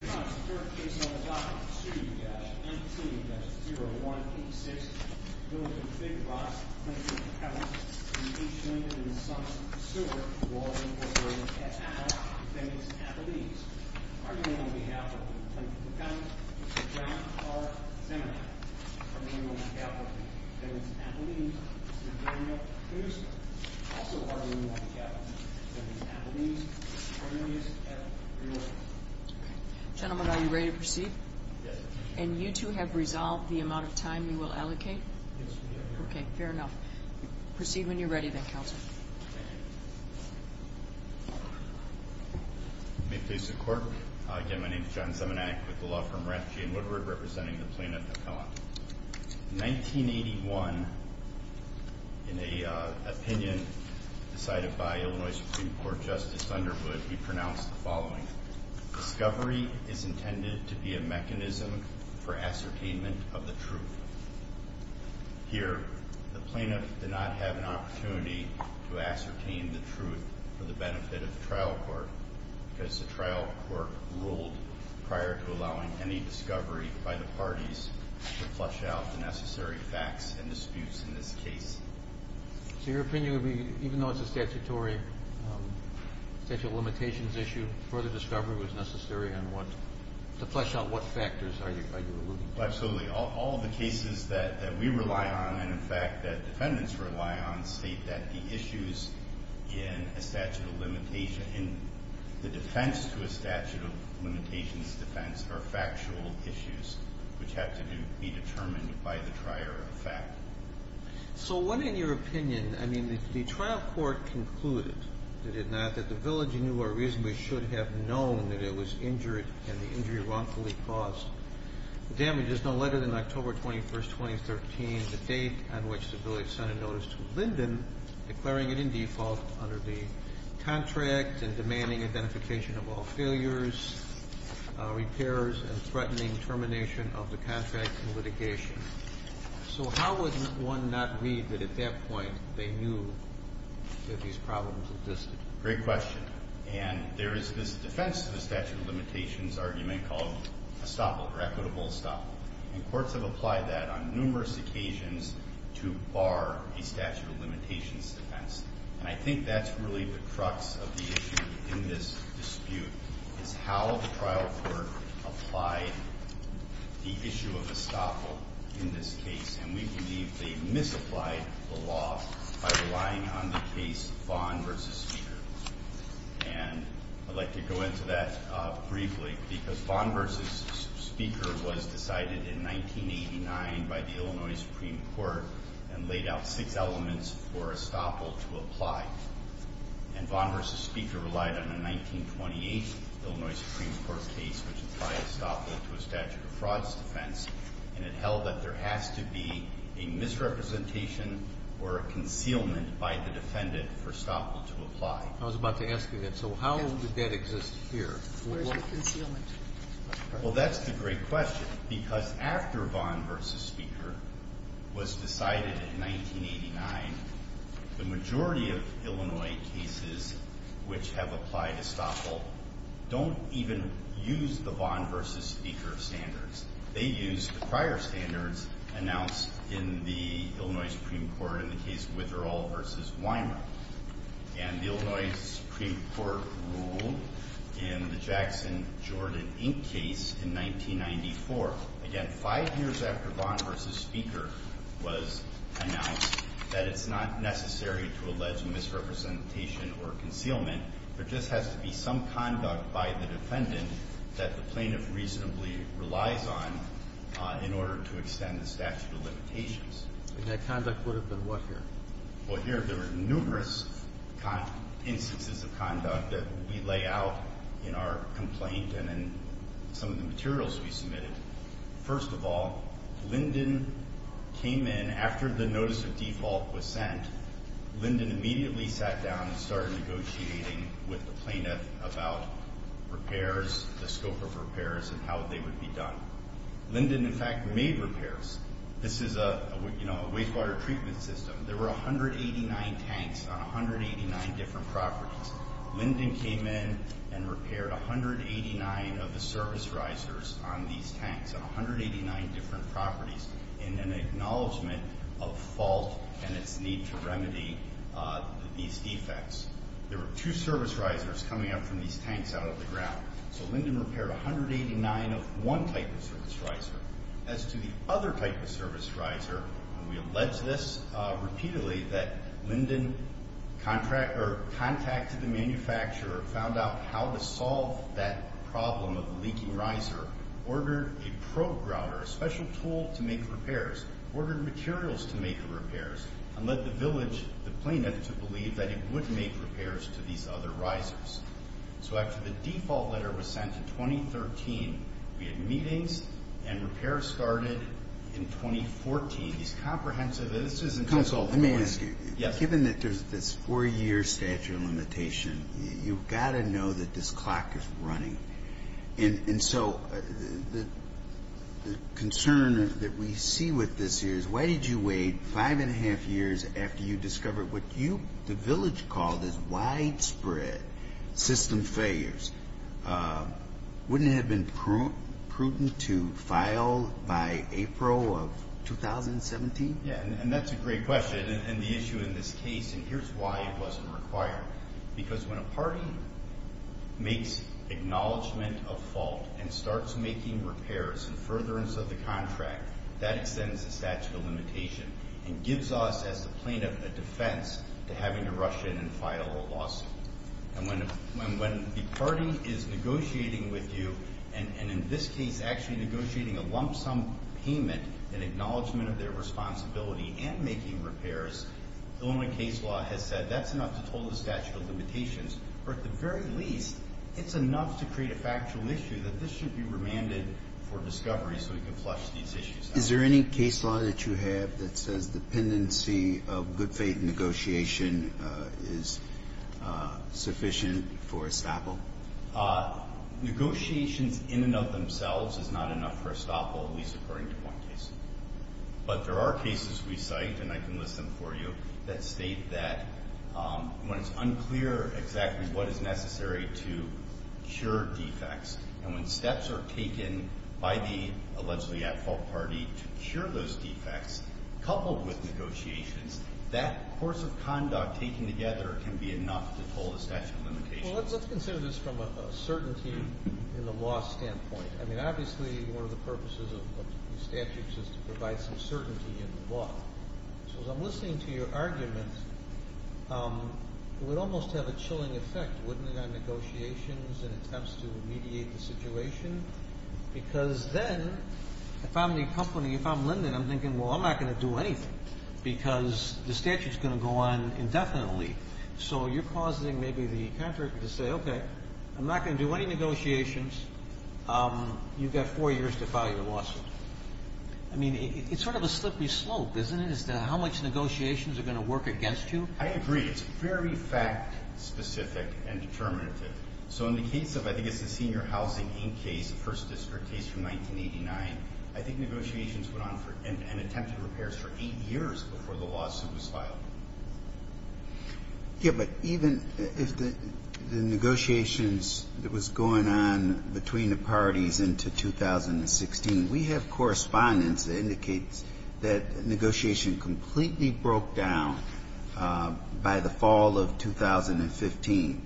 N.T.-0186 Linden Big Rock, Linden, McKellips and Linden and Sons Sewer, Water, and Water at Appel, Phoenix, Appelese. Arguing on behalf of Linden, McKellips, John R. Zemek, our memorial macabre for Phoenix, Appelese, and Daniel Pinuska. Also arguing on behalf of Phoenix, Appelese, and Cornelius F. Brewer. Gentlemen, are you ready to proceed? Yes. And you two have resolved the amount of time you will allocate? Yes, we have. Okay, fair enough. Proceed when you're ready then, Counselor. Thank you. May it please the Court. Again, my name is John Zemenak with the law firm Rapp, G. & Woodward, representing the plaintiff, Appellant. In 1981, in an opinion decided by Illinois Supreme Court Justice Thunderwood, he pronounced the following, discovery is intended to be a mechanism for ascertainment of the truth. Here, the plaintiff did not have an opportunity to ascertain the truth for the benefit of the trial court because the trial court ruled prior to allowing any discovery by the parties to flush out the necessary facts and disputes in this case. So your opinion would be, even though it's a statutory statute of limitations issue, further discovery was necessary to flush out what factors are you alluding to? Absolutely. All the cases that we rely on and, in fact, that defendants rely on state that the issues in the defense to a statute of limitations defense are factual issues which have to be determined by the prior effect. So what, in your opinion, I mean, the trial court concluded, did it not, that the village knew or reasonably should have known that it was injured and the injury wrongfully caused. The damage is no later than October 21, 2013, the date on which the village sent a notice to Linden, declaring it in default under the contract and demanding identification of all failures, repairs, and threatening termination of the contract in litigation. So how would one not read that at that point they knew that these problems existed? Great question. And there is this defense to the statute of limitations argument called estoppel or equitable estoppel. And courts have applied that on numerous occasions to bar a statute of limitations defense. And I think that's really the crux of the issue in this dispute is how the trial court applied the issue of estoppel in this case. And we believe they misapplied the law by relying on the case Vaughn v. Speaker. And I'd like to go into that briefly because Vaughn v. Speaker was decided in 1989 by the Illinois Supreme Court and Vaughn v. Speaker relied on a 1928 Illinois Supreme Court case which applied estoppel to a statute of frauds defense and it held that there has to be a misrepresentation or a concealment by the defendant for estoppel to apply. I was about to ask you that. So how did that exist here? Where's the concealment? Well, that's the great question because after Vaughn v. Speaker was decided in 1989, the majority of Illinois cases which have applied estoppel don't even use the Vaughn v. Speaker standards. They use the prior standards announced in the Illinois Supreme Court in the case Witherall v. Weimer. And the Illinois Supreme Court ruled in the Jackson-Jordan Inc. case in 1994. Again, five years after Vaughn v. Speaker was announced that it's not necessary to allege misrepresentation or concealment. There just has to be some conduct by the defendant that the plaintiff reasonably relies on in order to extend the statute of limitations. And that conduct would have been what here? Well, here there were numerous instances of conduct that we lay out in our complaint and in some of the materials we submitted. First of all, Linden came in after the notice of default was sent. Linden immediately sat down and started negotiating with the plaintiff about repairs, the scope of repairs, and how they would be done. Linden, in fact, made repairs. This is a wastewater treatment system. There were 189 tanks on 189 different properties. Linden came in and repaired 189 of the service risers on these tanks on 189 different properties in an acknowledgment of fault and its need to remedy these defects. There were two service risers coming up from these tanks out of the ground. So Linden repaired 189 of one type of service riser. As to the other type of service riser, we allege this repeatedly that Linden contacted the manufacturer, found out how to solve that problem of the leaking riser, ordered a probe grouter, a special tool to make repairs, ordered materials to make the repairs, and led the village, the plaintiff, to believe that it would make repairs to these other risers. So after the default letter was sent in 2013, we had meetings and repairs started in 2014. These comprehensive... Counsel, let me ask you. Yes. Given that there's this 4-year statute of limitation, you've got to know that this clock is running. And so the concern that we see with this here is why did you wait 5 1⁄2 years after you discovered what you, the village called, is widespread system failures? Wouldn't it have been prudent to file by April of 2017? Yeah, and that's a great question, and the issue in this case, and here's why it wasn't required. Because when a party makes acknowledgment of fault and starts making repairs and furtherance of the contract, that extends the statute of limitation and gives us as the plaintiff a defense to having to rush in and file a lawsuit. And when the party is negotiating with you, and in this case actually negotiating a lump sum payment in acknowledgment of their responsibility and making repairs, Illinois case law has said that's enough to toll the statute of limitations. Or at the very least, it's enough to create a factual issue that this should be remanded for discovery so we can flush these issues out. Is there any case law that you have that says the dependency of good faith negotiation is sufficient for estoppel? Negotiations in and of themselves is not enough for estoppel, at least according to one case. But there are cases we cite, and I can list them for you, that state that when it's unclear exactly what is necessary to cure defects, and when steps are taken by the allegedly at-fault party to cure those defects, coupled with negotiations, that course of conduct taken together can be enough to toll the statute of limitations. Well, let's consider this from a certainty in the law standpoint. I mean, obviously one of the purposes of statutes is to provide some certainty in the law. So as I'm listening to your argument, it would almost have a chilling effect, wouldn't it, on negotiations and attempts to mediate the situation? Because then, if I'm the company, if I'm Linden, I'm thinking, well, I'm not going to do anything because the statute's going to go on indefinitely. So you're causing maybe the contractor to say, okay, I'm not going to do any negotiations. You've got four years to file your lawsuit. I mean, it's sort of a slippery slope, isn't it, as to how much negotiations are going to work against you? I agree. It's very fact-specific and determinative. So in the case of, I think it's the Senior Housing Inc. case, the first district case from 1989, I think negotiations went on and attempted repairs for eight years before the lawsuit was filed. Yeah, but even if the negotiations that was going on between the parties into 2016, we have correspondence that indicates that negotiation completely broke down by the fall of 2015.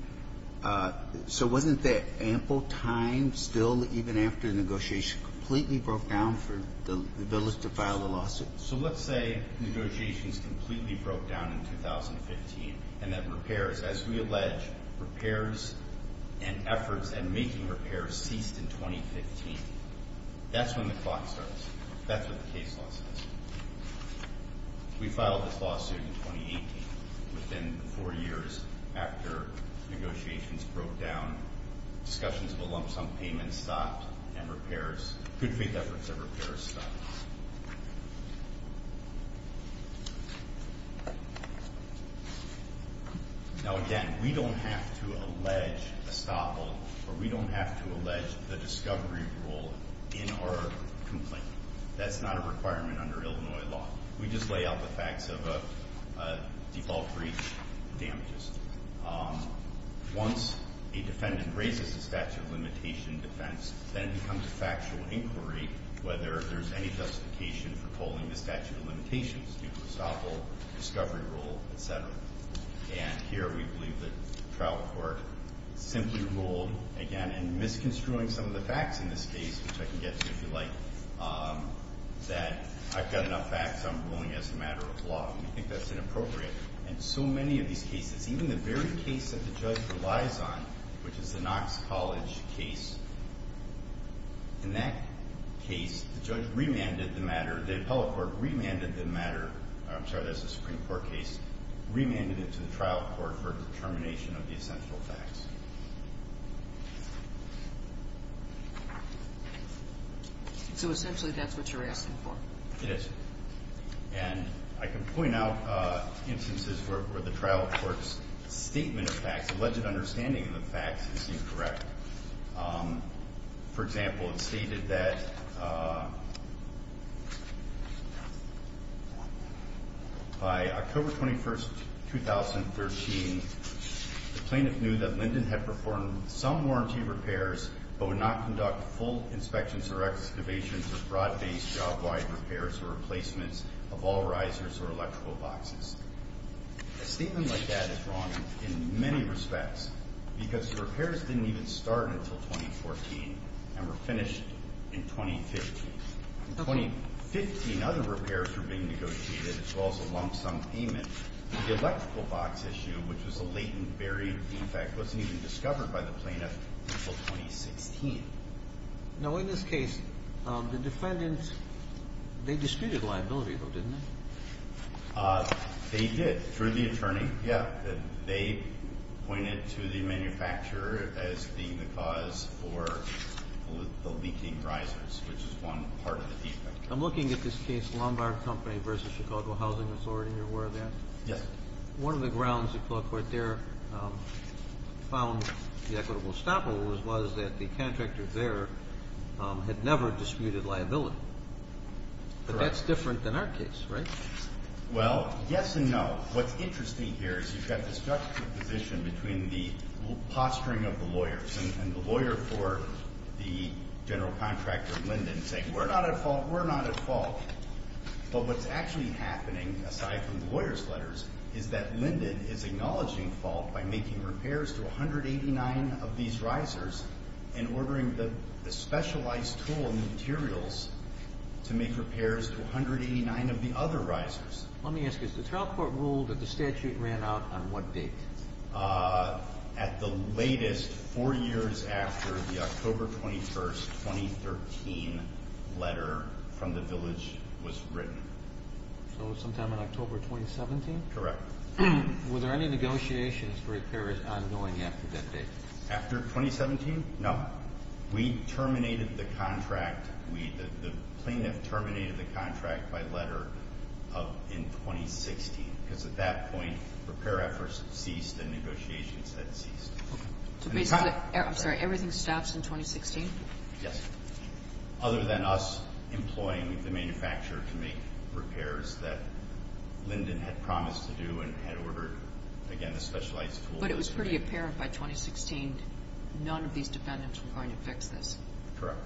So wasn't that ample time still, even after the negotiation completely broke down, for the village to file the lawsuit? So let's say negotiations completely broke down in 2015 and that repairs, as we allege, repairs and efforts at making repairs ceased in 2015. That's when the clock starts. That's what the case law says. We filed this lawsuit in 2018, within four years after negotiations broke down, discussions of a lump sum payment stopped, and repairs, good faith efforts at repairs stopped. Now again, we don't have to allege a stop hold, or we don't have to allege the discovery rule in our complaint. That's not a requirement under Illinois law. We just lay out the facts of default breach damages. Once a defendant raises the statute of limitation defense, then it becomes a factual inquiry whether there's any justification for pulling the statute of limitations due to a stop hold, discovery rule, et cetera. And here we believe that the trial court simply ruled, again, in misconstruing some of the facts in this case, which I can get to if you like, that I've got enough facts, I'm ruling as a matter of law. We think that's inappropriate. And so many of these cases, even the very case that the judge relies on, which is the Knox College case, in that case, the judge remanded the matter, the appellate court remanded the matter, I'm sorry, that's a Supreme Court case, remanded it to the trial court for determination of the essential facts. So essentially that's what you're asking for. It is. And I can point out instances where the trial court's statement of facts, alleged understanding of the facts, is incorrect. For example, it's stated that by October 21st, 2013, the plaintiff knew that Linden had performed some warranty repairs but would not conduct full inspections or excavations or fraud-based job-wide repairs or replacements of all risers or electrical boxes. A statement like that is wrong in many respects because the repairs didn't even start until 2014 and were finished in 2015. In 2015, other repairs were being negotiated as well as a lump sum payment. The electrical box issue, which was a latent, buried defect, wasn't even discovered by the plaintiff until 2016. Now, in this case, the defendants, they disputed liability, though, didn't they? They did, through the attorney, yeah. They pointed to the manufacturer as being the cause for the leaking risers, which is one part of the defect. I'm looking at this case, Lombard Company v. Chicago Housing, I'm sorry, you're aware of that? Yes. One of the grounds that the law court there found the equitable stoppables was that the contractor there had never disputed liability. Correct. But that's different than our case, right? Well, yes and no. What's interesting here is you've got this juxtaposition between the posturing of the lawyers and the lawyer for the general contractor, Linden, saying, we're not at fault, we're not at fault. But what's actually happening, aside from the lawyers' letters, is that Linden is acknowledging fault by making repairs to 189 of these risers and ordering the specialized tool and materials to make repairs to 189 of the other risers. Let me ask you, is the trial court ruled that the statute ran out on what date? At the latest, 4 years after the October 21, 2013, letter from the village was written. So sometime in October 2017? Correct. Were there any negotiations for repairs ongoing after that date? After 2017? No. We terminated the contract. The plaintiff terminated the contract by letter in 2016 because at that point, repair efforts ceased and negotiations had ceased. I'm sorry, everything stops in 2016? Yes. Other than us employing the manufacturer to make repairs that Linden had promised to do and had ordered, again, a specialized tool. But it was pretty apparent by 2016 none of these defendants were going to fix this. Correct.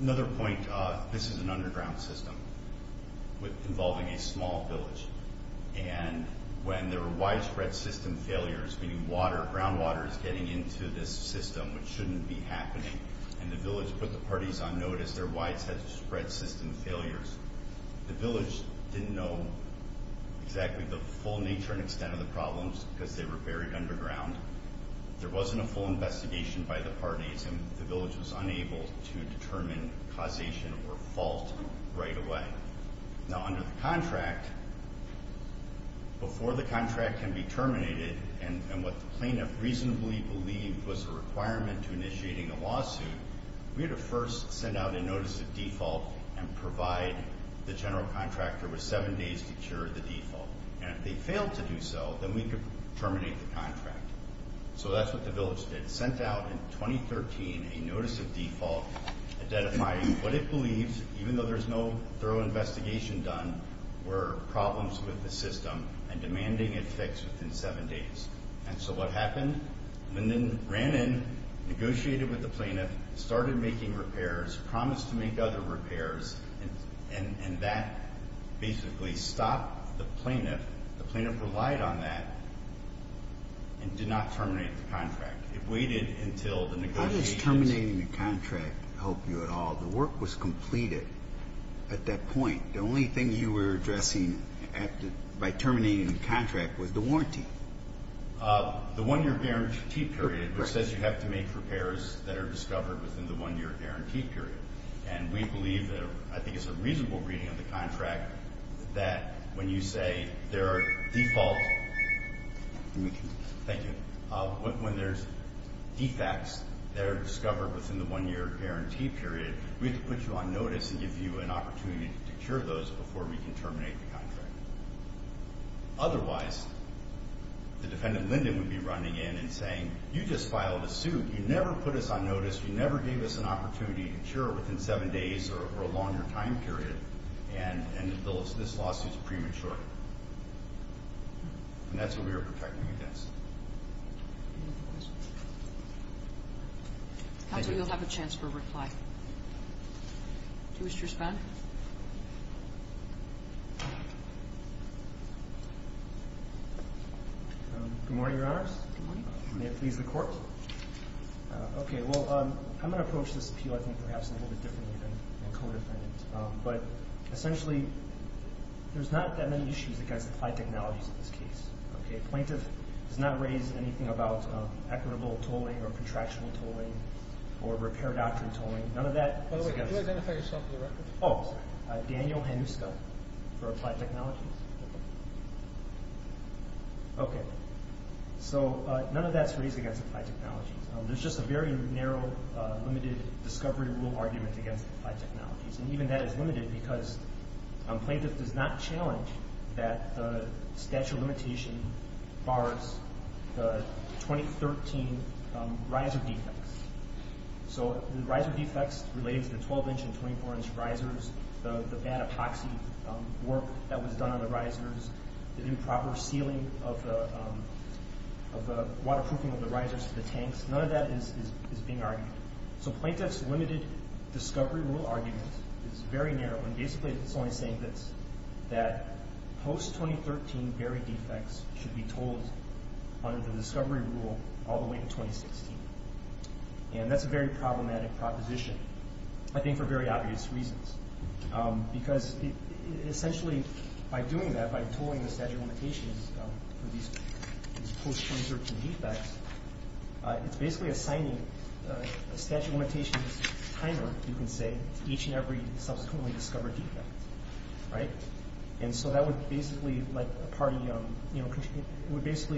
Another point, this is an underground system involving a small village. And when there were widespread system failures, meaning groundwater is getting into this system, which shouldn't be happening, and the village put the parties on notice, there were widespread system failures. The village didn't know exactly the full nature and extent of the problems because they were buried underground. There wasn't a full investigation by the parties and the village was unable to determine causation or fault right away. Now, under the contract, before the contract can be terminated, and what the plaintiff reasonably believed was a requirement to initiating a lawsuit, we had to first send out a notice of default and provide the general contractor with seven days to cure the default. And if they failed to do so, then we could terminate the contract. So that's what the village did. They sent out in 2013 a notice of default identifying what it believes, even though there's no thorough investigation done, were problems with the system and demanding it fixed within seven days. And so what happened? Linden ran in, negotiated with the plaintiff, started making repairs, promised to make other repairs, and that basically stopped the plaintiff. The plaintiff relied on that and did not terminate the contract. It waited until the negotiations. How does terminating the contract help you at all? The work was completed at that point. The only thing you were addressing by terminating the contract was the warranty. The one-year guarantee period, which says you have to make repairs that are discovered within the one-year guarantee period. And we believe that I think it's a reasonable reading of the contract that when you say there are defaults, when there's defects that are discovered within the one-year guarantee period, we have to put you on notice and give you an opportunity to cure those before we can terminate the contract. Otherwise, the defendant Linden would be running in and saying, you just filed a suit. You never put us on notice. You never gave us an opportunity to cure within seven days or a longer time period. And this lawsuit is premature. And that's what we are protecting against. Counsel, you'll have a chance for a reply. Do you wish to respond? Good morning, Your Honors. Good morning. May it please the Court. Okay, well, I'm going to approach this appeal, I think, perhaps a little bit differently than the co-defendant. But essentially, there's not that many issues against applied technologies in this case. Okay? Plaintiff has not raised anything about equitable tolling or contractual tolling or repair doctrine tolling. None of that is against— By the way, could you identify yourself for the record? Oh, sorry. Daniel Hanuska for applied technologies. Okay. So none of that's raised against applied technologies. There's just a very narrow, limited discovery rule argument against applied technologies. And even that is limited because plaintiff does not challenge that the statute of limitation bars the 2013 riser defects. So the riser defects related to the 12-inch and 24-inch risers, the bad epoxy work that was done on the risers, the improper sealing of the waterproofing of the risers to the tanks, none of that is being argued. So plaintiff's limited discovery rule argument is very narrow, and basically it's only saying this, that post-2013 barrier defects should be tolled under the discovery rule all the way to 2016. And that's a very problematic proposition, I think for very obvious reasons, because essentially by doing that, by tolling the statute of limitations for these post-2013 defects, it's basically assigning a statute of limitations timer, you can say, to each and every subsequently discovered defect. And so that would basically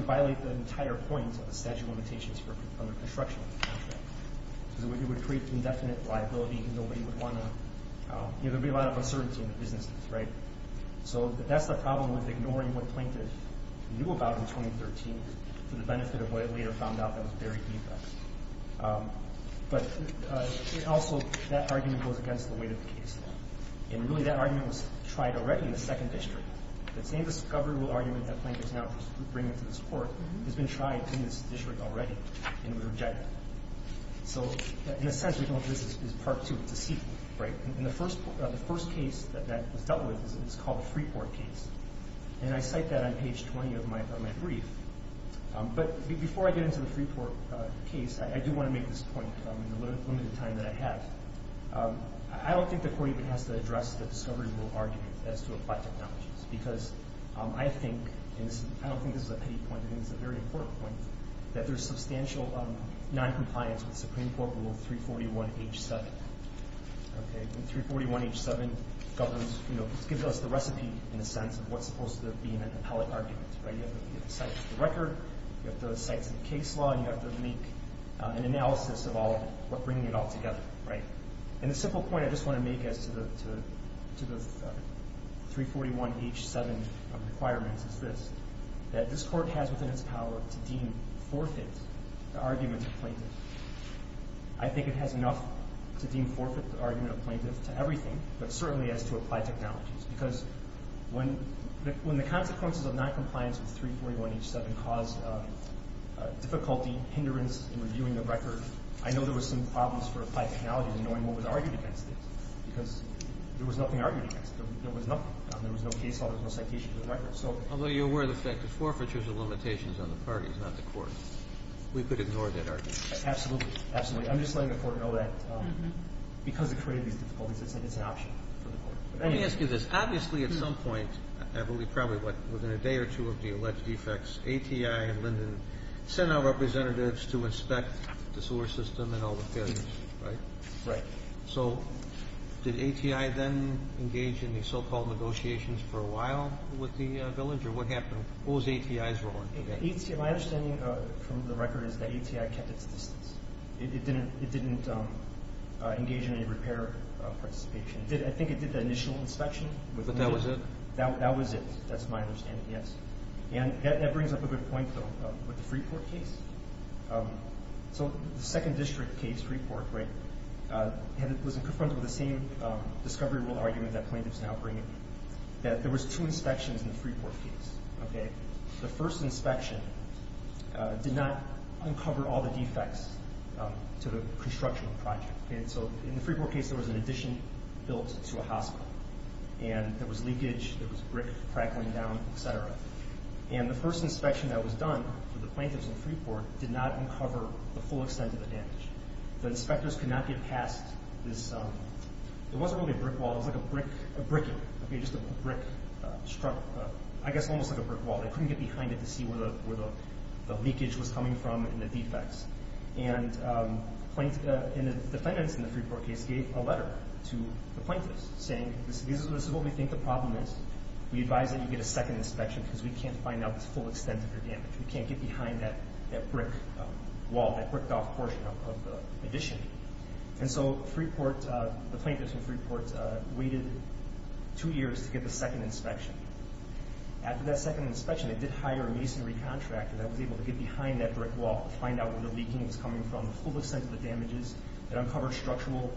violate the entire point of the statute of limitations for construction. It would create indefinite liability. There would be a lot of uncertainty in the business. So that's the problem with ignoring what plaintiff knew about in 2013 for the benefit of what it later found out that was barrier defects. But also that argument goes against the weight of the case. And really that argument was tried already in the second district. The same discovery rule argument that plaintiff's now bringing to this Court has been tried in this district already, and it was rejected. So in a sense, this is part two. It's a sequel. And the first case that was dealt with is called the Freeport case. And I cite that on page 20 of my brief. But before I get into the Freeport case, I do want to make this point in the limited time that I have. I don't think the Court even has to address the discovery rule argument as to applied technologies, because I think, and I don't think this is a pity point, I think it's a very important point, that there's substantial noncompliance with Supreme Court Rule 341H7. Okay? And 341H7 governs, you know, gives us the recipe, in a sense, of what's supposed to be an appellate argument. Right? You have to cite the record, you have to cite some case law, and you have to make an analysis of all of it, bringing it all together. Right? And the simple point I just want to make as to the 341H7 requirements is this, that this Court has within its power to deem forfeit the argument of plaintiff. I think it has enough to deem forfeit the argument of plaintiff to everything, but certainly as to applied technologies. Because when the consequences of noncompliance with 341H7 cause difficulty, hindrance in reviewing the record, I know there were some problems for applied technologies in knowing what was argued against it, because there was nothing argued against it. There was no case law, there was no citation for the record. Although you're aware of the fact that forfeiture is a limitation on the parties, not the Court. We could ignore that argument. Absolutely. Absolutely. I'm just letting the Court know that because it created these difficulties, it's an option for the Court. Let me ask you this. Obviously at some point, I believe probably within a day or two of the alleged defects, ATI and Linden sent our representatives to inspect the sewer system and all the failures, right? Right. So did ATI then engage in the so-called negotiations for a while with the villager? What happened? What was ATI's role? My understanding from the record is that ATI kept its distance. It didn't engage in any repair participation. I think it did the initial inspection. But that was it? That was it. That's my understanding, yes. And that brings up a good point, though, with the Freeport case. So the second district case, Freeport, right, was confronted with the same discovery rule argument that plaintiffs now bring in, that there was two inspections in the Freeport case, okay? The first inspection did not uncover all the defects to the construction project. And so in the Freeport case, there was an addition built to a hospital, and there was leakage, there was brick crack going down, et cetera. And the first inspection that was done for the plaintiffs in Freeport did not uncover the full extent of the damage. The inspectors could not get past this. It wasn't really a brick wall. It was like a brick, a brick, okay, just a brick structure, I guess almost like a brick wall. They couldn't get behind it to see where the leakage was coming from and the defects. And the defendants in the Freeport case gave a letter to the plaintiffs saying, this is what we think the problem is. We advise that you get a second inspection because we can't find out the full extent of your damage. We can't get behind that brick wall, that bricked-off portion of the addition. And so Freeport, the plaintiffs in Freeport, waited two years to get the second inspection. After that second inspection, they did hire a masonry contractor that was able to get behind that brick wall to find out where the leaking was coming from, the full extent of the damages.